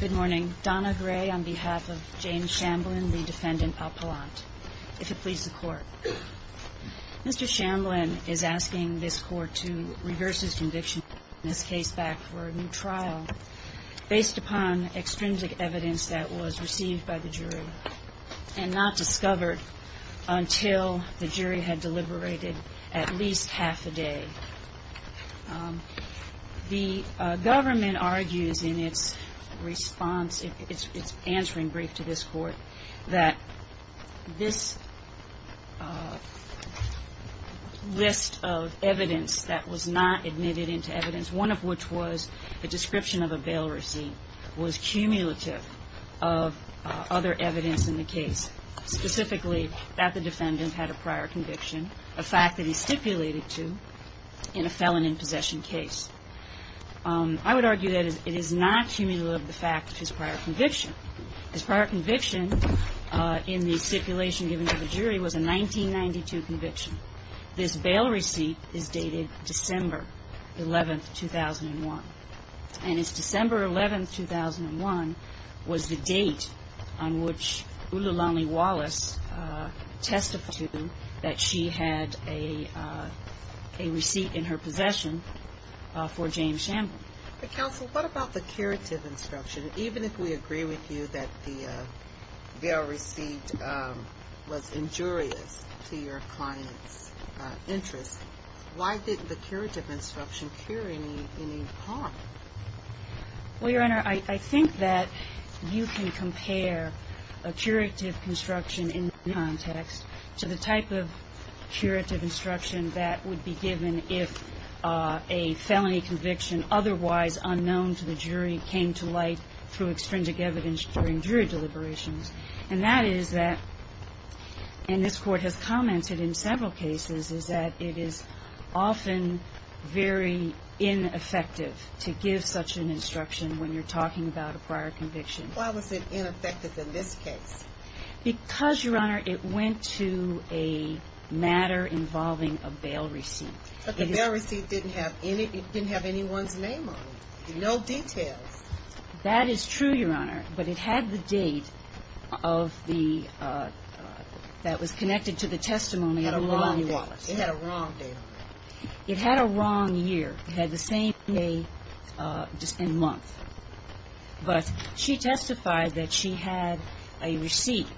Good morning. Donna Gray on behalf of James Shamblin, the Defendant Appellant, if it please the Court. Mr. Shamblin is asking this Court to reverse his conviction in this case back for a new trial based upon extrinsic evidence that was received by the jury and not discovered until the jury had deliberated at least half a day. The government argues in its response, its answering brief to this Court, that this list of evidence that was not admitted into evidence, one of which was the description of a bail receipt, was cumulative of other evidence in the case, specifically that the defendant had a prior conviction, a fact that he stipulated to in a felon in possession case. I would argue that it is not cumulative of the fact of his prior conviction. His prior conviction in the stipulation given to the jury was a 1992 conviction. This bail receipt is dated December 11, 2001. And it's December 11, 2001 was the date on which Ululani Wallace testified that she had a receipt in her possession for James Shamblin. But Counsel, what about the curative instruction? Even if we agree with you that the bail receipt was injurious to your client's interest, why did the curative instruction carry any harm? Well, Your Honor, I think that you can compare a curative construction in context to the type of curative instruction that would be given if a felony conviction otherwise unknown to the jury came to light through extrinsic evidence during jury deliberations. And that is that, and this Court has commented in several cases, is that it is often very ineffective to give such an instruction when you're talking about a prior conviction. Why was it ineffective in this case? Because, Your Honor, it went to a matter involving a bail receipt. But the bail receipt didn't have anyone's name on it. No details. That is true, Your Honor, but it had the date of the – that was connected to the testimony of Ululani Wallace. It had a wrong date on it. It had a wrong year. It had the same day and month. But she testified that she had a receipt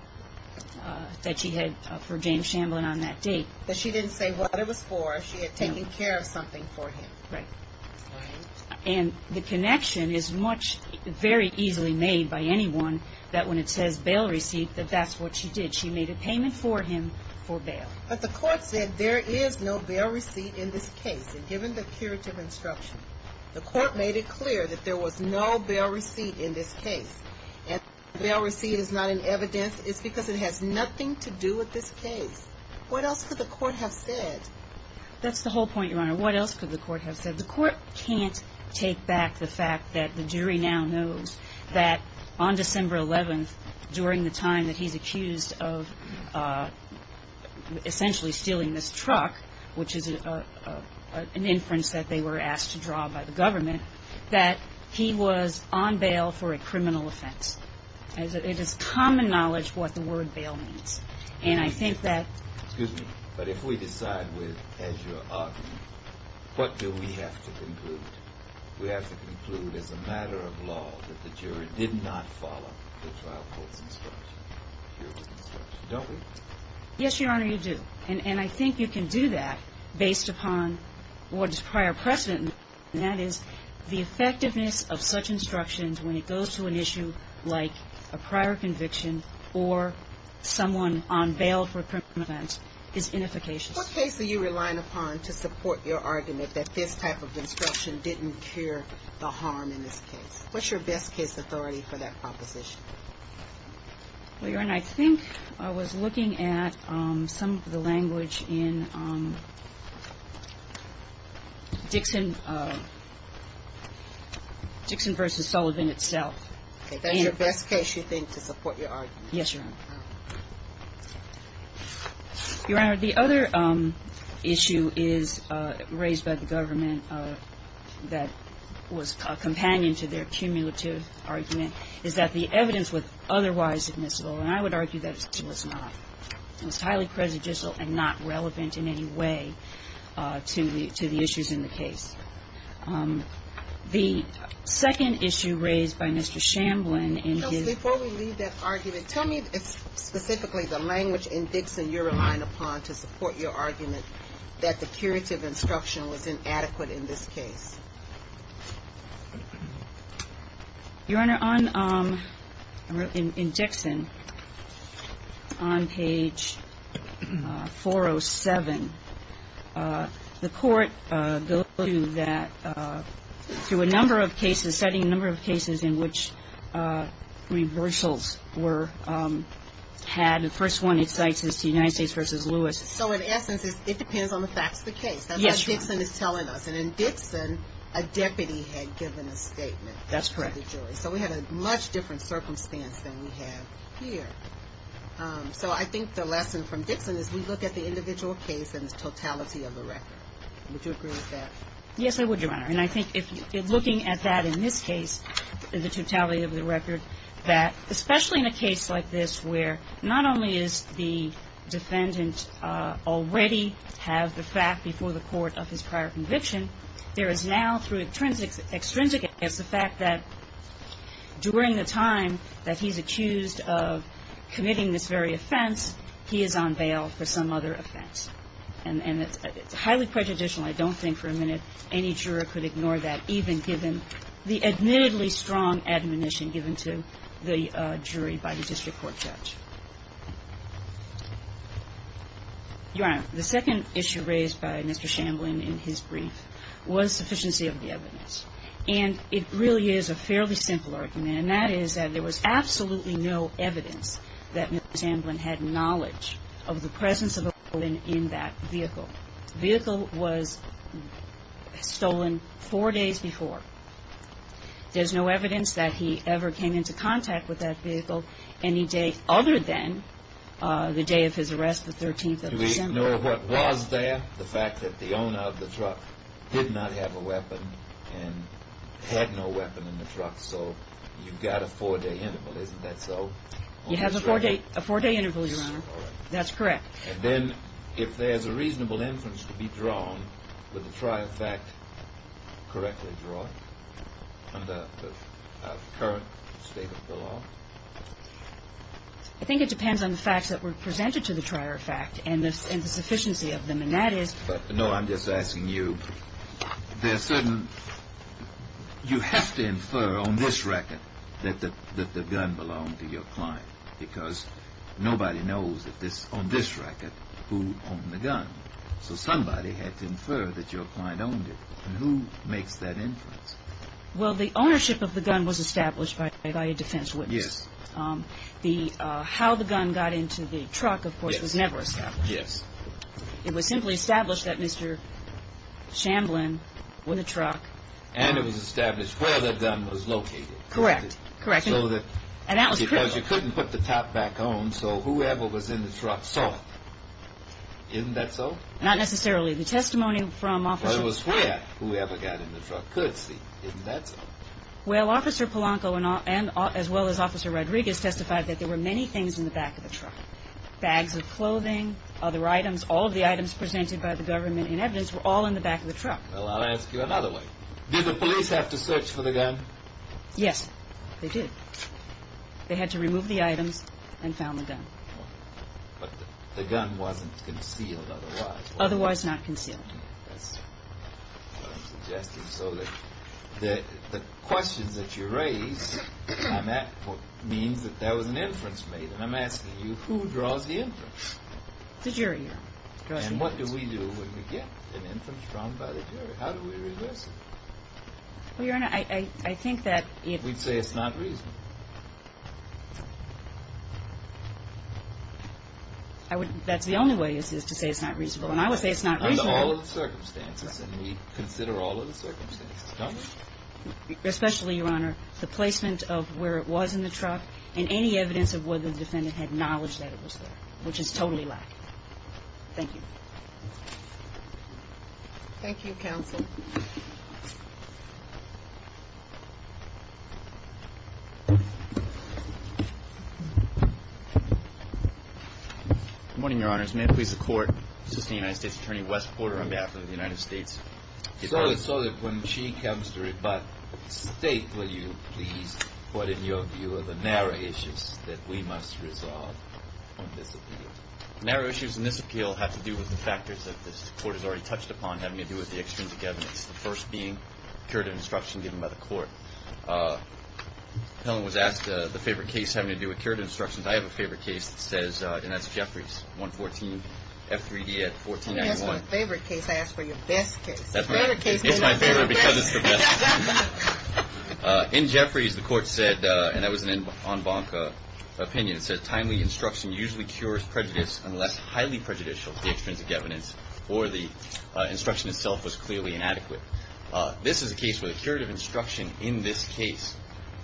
that she had for James Shamblin on that date. But she didn't say what it was for. She had taken care of something for him. Right. And the connection is much – very easily made by anyone that when it says bail receipt, that that's what she did. She made a payment for him for bail. But the Court said there is no bail receipt in this case. And given the curative instruction, the Court made it clear that there was no bail receipt in this case. And if the bail receipt is not in evidence, it's because it has nothing to do with this case. What else could the Court have said? That's the whole point, Your Honor. What else could the Court have said? The Court can't take back the fact that the jury now knows that on December 11th, during the time that he's accused of essentially stealing this truck, which is an inference that they were asked to draw by the government, that he was on bail for a criminal offense. It is common knowledge what the word bail means. And I think that – As you're arguing, what do we have to conclude? We have to conclude as a matter of law that the jury did not follow the trial court's instruction, the jury's instruction, don't we? Yes, Your Honor, you do. And I think you can do that based upon what is prior precedent, and that is the effectiveness of such instructions when it goes to an issue like a prior conviction or someone on bail for a criminal offense is inefficacious. What case are you relying upon to support your argument that this type of instruction didn't cure the harm in this case? What's your best case authority for that proposition? Well, Your Honor, I think I was looking at some of the language in Dixon versus Sullivan itself. Okay. That's your best case, you think, to support your argument? Yes, Your Honor. Your Honor, the other issue is raised by the government that was a companion to their cumulative argument is that the evidence was otherwise admissible, and I would argue that it was not. It was highly prejudicial and not relevant in any way to the issues in the case. The second issue raised by Mr. Shamblin in his – specifically the language in Dixon you're relying upon to support your argument that the curative instruction was inadequate in this case. Your Honor, on – in Dixon, on page 407, the Court goes to that through a number of cases, citing a number of cases in which reversals were had. The first one it cites is the United States versus Lewis. So in essence, it depends on the facts of the case. Yes, Your Honor. That's what Dixon is telling us. And in Dixon, a deputy had given a statement to the jury. That's correct. So we had a much different circumstance than we have here. So I think the lesson from Dixon is we look at the individual case and the totality of the record. Would you agree with that? Yes, I would, Your Honor. And I think if you're looking at that in this case, the totality of the record, that especially in a case like this where not only is the defendant already have the fact before the court of his prior conviction, there is now through extrinsic evidence the fact that during the time that he's accused of committing this very offense, he is on bail for some other offense. And it's highly prejudicial. I don't think for a minute any juror could ignore that even given the admittedly strong admonition given to the jury by the district court judge. Your Honor, the second issue raised by Mr. Shamblin in his brief was sufficiency of the evidence. And it really is a fairly simple argument, and that is that there was absolutely no evidence that Mr. Shamblin had knowledge of the presence of a woman in that vehicle. The vehicle was stolen four days before. There's no evidence that he ever came into contact with that vehicle any day other than the day of his arrest, the 13th of December. Do we know what was there? The fact that the owner of the truck did not have a weapon and had no weapon in the truck, so you've got a four-day interval. Isn't that so? You have a four-day interval, Your Honor. That's correct. And then if there's a reasonable inference to be drawn, would the trier fact correctly draw it under the current state of the law? I think it depends on the facts that were presented to the trier fact and the sufficiency of them, and that is... No, I'm just asking you. There are certain... You have to infer on this record that the gun belonged to your client because nobody knows on this record who owned the gun. So somebody had to infer that your client owned it, and who makes that inference? Well, the ownership of the gun was established by a defense witness. Yes. How the gun got into the truck, of course, was never established. Yes. It was simply established that Mr. Shamblin, with a truck... And it was established where the gun was located. Correct. Correct. Because you couldn't put the top back on, so whoever was in the truck saw. Isn't that so? Not necessarily. The testimony from officers... It was where whoever got in the truck could see. Isn't that so? Well, Officer Polanco, as well as Officer Rodriguez, testified that there were many things in the back of the truck. Bags of clothing, other items, all of the items presented by the government in evidence were all in the back of the truck. Well, I'll ask you another way. Did the police have to search for the gun? Yes, they did. They had to remove the items and found the gun. But the gun wasn't concealed otherwise. Otherwise not concealed. That's what I'm suggesting. So the questions that you raise means that there was an inference made. And I'm asking you, who draws the inference? The jury, Your Honor. And what do we do when we get an inference drawn by the jury? How do we reverse it? Well, Your Honor, I think that if... We'd say it's not reasonable. That's the only way is to say it's not reasonable. And I would say it's not reasonable. Under all of the circumstances. And we consider all of the circumstances, don't we? Especially, Your Honor, the placement of where it was in the truck and any evidence of whether the defendant had knowledge that it was there, which is totally lacking. Thank you. Thank you, counsel. Good morning, Your Honors. May it please the Court, Assistant United States Attorney Wes Porter on behalf of the United States. So that when she comes to rebut state, will you please put in your view of the narrow issues that we must resolve on this appeal? Narrow issues in this appeal have to do with the factors that this Court has already touched upon having to do with the extrinsic evidence. The first being curative instruction given by the Court. Helen was asked the favorite case having to do with curative instructions. I have a favorite case that says, and that's Jeffries 114 F3D at 1491. That's my favorite case. I asked for your best case. It's my favorite because it's the best. In Jeffries, the Court said, and that was an en banc opinion, it said timely instruction usually cures prejudice unless highly prejudicial. The extrinsic evidence for the instruction itself was clearly inadequate. This is a case where the curative instruction in this case,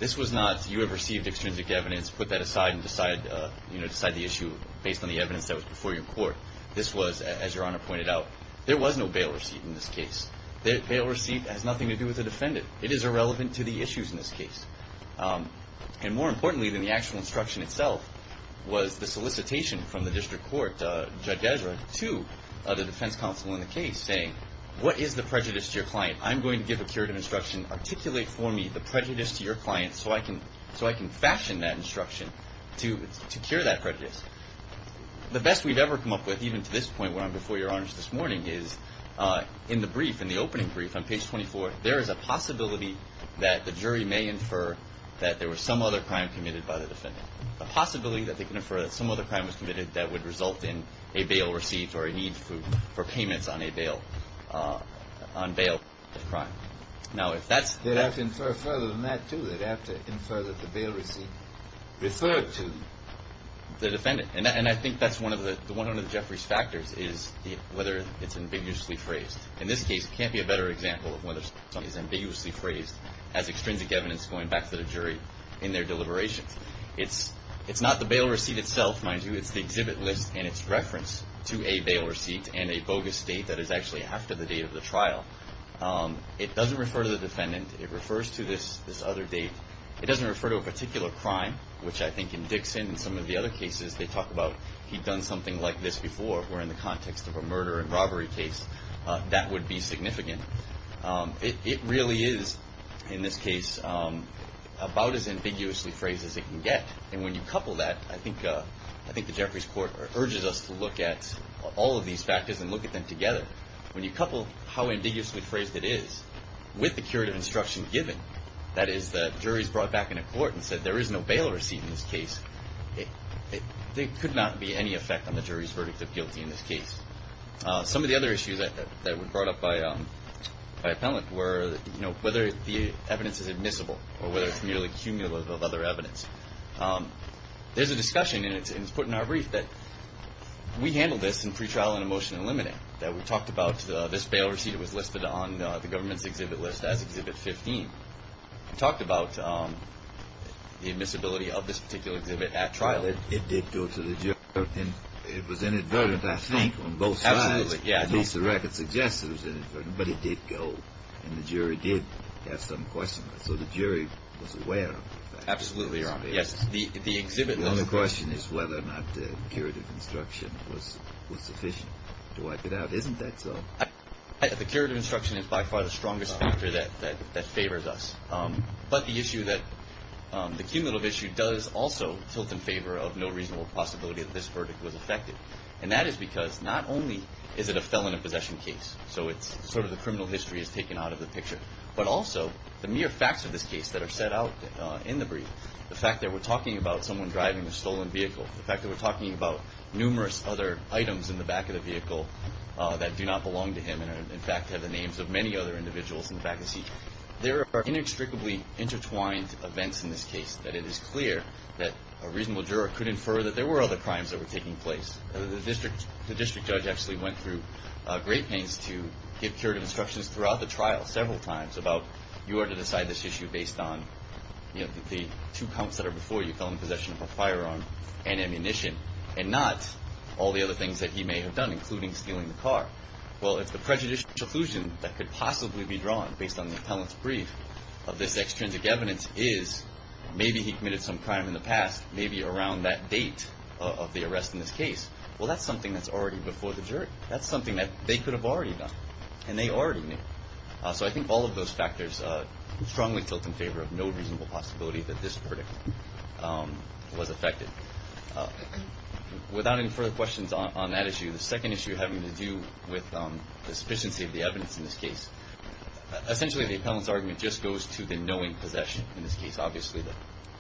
this was not you have received extrinsic evidence, put that aside and decide the issue based on the evidence that was before your Court. This was, as Your Honor pointed out, there was no bail receipt in this case. The bail receipt has nothing to do with the defendant. It is irrelevant to the issues in this case. And more importantly than the actual instruction itself was the solicitation from the District Court, Judge Ezra, to the defense counsel in the case saying, what is the prejudice to your client? I'm going to give a curative instruction. Articulate for me the prejudice to your client so I can fashion that instruction to cure that prejudice. The best we've ever come up with, even to this point where I'm before Your Honors this morning, is in the brief, in the opening brief on page 24, there is a possibility that the jury may infer that there was some other crime committed by the defendant. A possibility that they can infer that some other crime was committed that would result in a bail received or a need for payments on a bail, on bail of crime. Now, if that's the case. They'd have to infer further than that, too. They'd have to infer that the bail receipt referred to the defendant. And I think that's one of the, one of the Jeffries factors is whether it's ambiguously phrased. In this case, it can't be a better example of whether something is ambiguously phrased as extrinsic evidence going back to the jury in their deliberations. It's not the bail receipt itself, mind you. It's the exhibit list and its reference to a bail receipt and a bogus date that is actually after the date of the trial. It doesn't refer to the defendant. It refers to this other date. It doesn't refer to a particular crime, which I think in Dixon and some of the other cases they talk about, he'd done something like this before. Where in the context of a murder and robbery case, that would be significant. It really is, in this case, about as ambiguously phrased as it can get. And when you couple that, I think the Jeffries court urges us to look at all of these factors and look at them together. When you couple how ambiguously phrased it is with the curative instruction given, that is the jury's brought back in a court and said there is no bail receipt in this case, there could not be any effect on the jury's verdict of guilty in this case. Some of the other issues that were brought up by appellant were whether the evidence is admissible or whether it's merely cumulative of other evidence. There's a discussion, and it's put in our brief, that we handled this in pretrial and emotion eliminating, that we talked about this bail receipt was listed on the government's exhibit list as Exhibit 15. We talked about the admissibility of this particular exhibit at trial. It did go to the jury. It was inadvertent, I think, on both sides. Absolutely. At least the record suggests it was inadvertent, but it did go, and the jury did have some questions. So the jury was aware of that. Absolutely. The exhibit list. The only question is whether or not the curative instruction was sufficient to wipe it out. Isn't that so? The curative instruction is by far the strongest factor that favors us. But the issue that the cumulative issue does also tilt in favor of no reasonable possibility that this verdict was affected, and that is because not only is it a felon in possession case, so it's sort of the criminal history is taken out of the picture, but also the mere facts of this case that are set out in the brief, the fact that we're talking about someone driving a stolen vehicle, the fact that we're talking about numerous other items in the back of the vehicle that do not belong to him and, in fact, have the names of many other individuals in the back of the seat. There are inextricably intertwined events in this case, that it is clear that a reasonable juror could infer that there were other crimes that were taking place. The district judge actually went through great pains to give curative instructions throughout the trial several times about, you are to decide this issue based on the two counts that are before you, felon in possession of a firearm and ammunition, and not all the other things that he may have done, including stealing the car. Well, if the prejudicial illusion that could possibly be drawn based on the appellant's brief of this extrinsic evidence is, maybe he committed some crime in the past, maybe around that date of the arrest in this case, well, that's something that's already before the jury. That's something that they could have already done, and they already knew. So I think all of those factors strongly tilt in favor of no reasonable possibility that this verdict was affected. Without any further questions on that issue, the second issue having to do with the sufficiency of the evidence in this case, essentially the appellant's argument just goes to the knowing possession in this case, obviously, that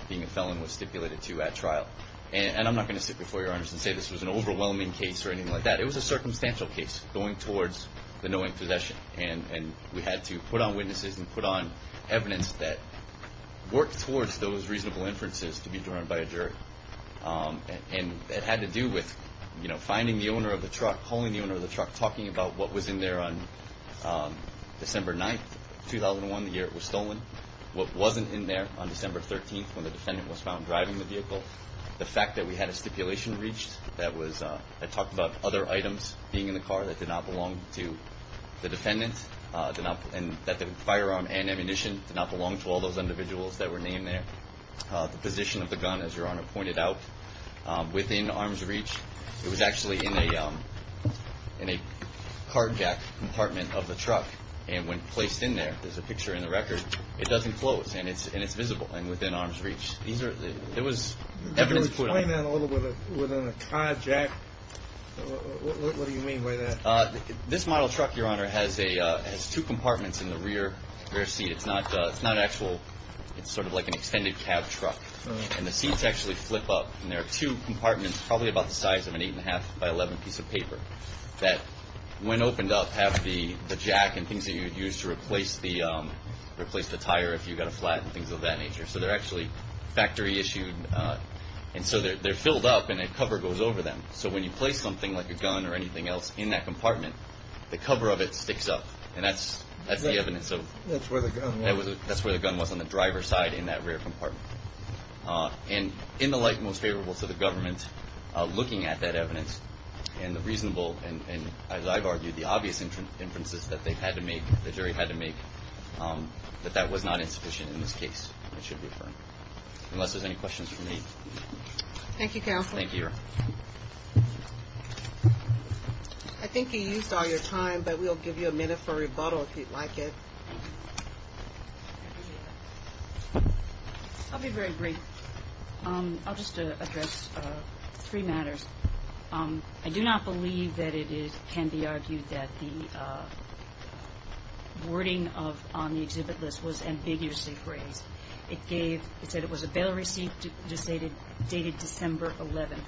being a felon was stipulated to at trial. And I'm not going to sit before your honors and say this was an overwhelming case or anything like that. It was a circumstantial case going towards the knowing possession, and we had to put on witnesses and put on evidence that worked towards those reasonable inferences to be drawn by a jury. And it had to do with finding the owner of the truck, calling the owner of the truck, talking about what was in there on December 9th, 2001, the year it was stolen, what wasn't in there on December 13th when the defendant was found driving the vehicle, the fact that we had a stipulation reached that talked about other items being in the car that did not belong to the defendant, that the firearm and ammunition did not belong to all those individuals that were named there, the position of the gun, as your honor pointed out, within arm's reach. It was actually in a card jack compartment of the truck, and when placed in there, there's a picture in the record, it doesn't close and it's visible and within arm's reach. There was evidence put in there. Can you explain that a little bit with a card jack? What do you mean by that? This model truck, your honor, has two compartments in the rear seat. It's not actual, it's sort of like an extended cab truck, and the seats actually flip up. And there are two compartments, probably about the size of an eight and a half by 11 piece of paper, that when opened up have the jack and things that you would use to replace the tire if you got a flat and things of that nature. So they're actually factory issued. And so they're filled up and a cover goes over them. So when you place something like a gun or anything else in that compartment, the cover of it sticks up. And that's the evidence. That's where the gun was. That's where the gun was, on the driver's side in that rear compartment. And in the light most favorable to the government, looking at that evidence and the reasonable, and as I've argued, the obvious inferences that they had to make, the jury had to make, that that was not insufficient in this case, I should refer, unless there's any questions for me. Thank you, counsel. Thank you, your honor. I think you used all your time, but we'll give you a minute for rebuttal if you'd like it. Thank you. I appreciate that. I'll be very brief. I'll just address three matters. I do not believe that it can be argued that the wording on the exhibit list was ambiguously phrased. It said it was a bail receipt dated December 11th.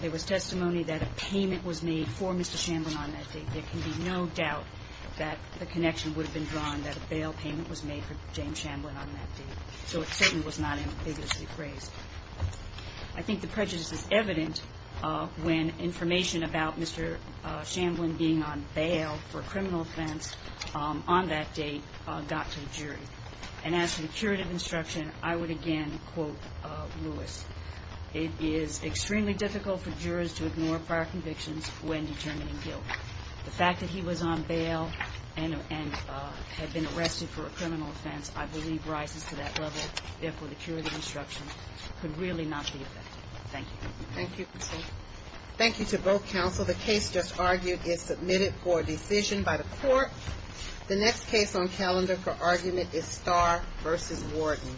There was testimony that a payment was made for Mr. Shamblin on that date. There can be no doubt that the connection would have been drawn that a bail payment was made for James Shamblin on that date. So it certainly was not ambiguously phrased. I think the prejudice is evident when information about Mr. Shamblin being on bail for criminal offense on that date got to the jury. And as to the curative instruction, I would again quote Lewis. It is extremely difficult for jurors to ignore prior convictions when determining guilt. The fact that he was on bail and had been arrested for a criminal offense, I believe rises to that level. Therefore, the curative instruction could really not be effective. Thank you. Thank you, counsel. Thank you to both counsel. The case just argued is submitted for decision by the court. The next case on calendar for argument is Starr v. Warden. Thank you.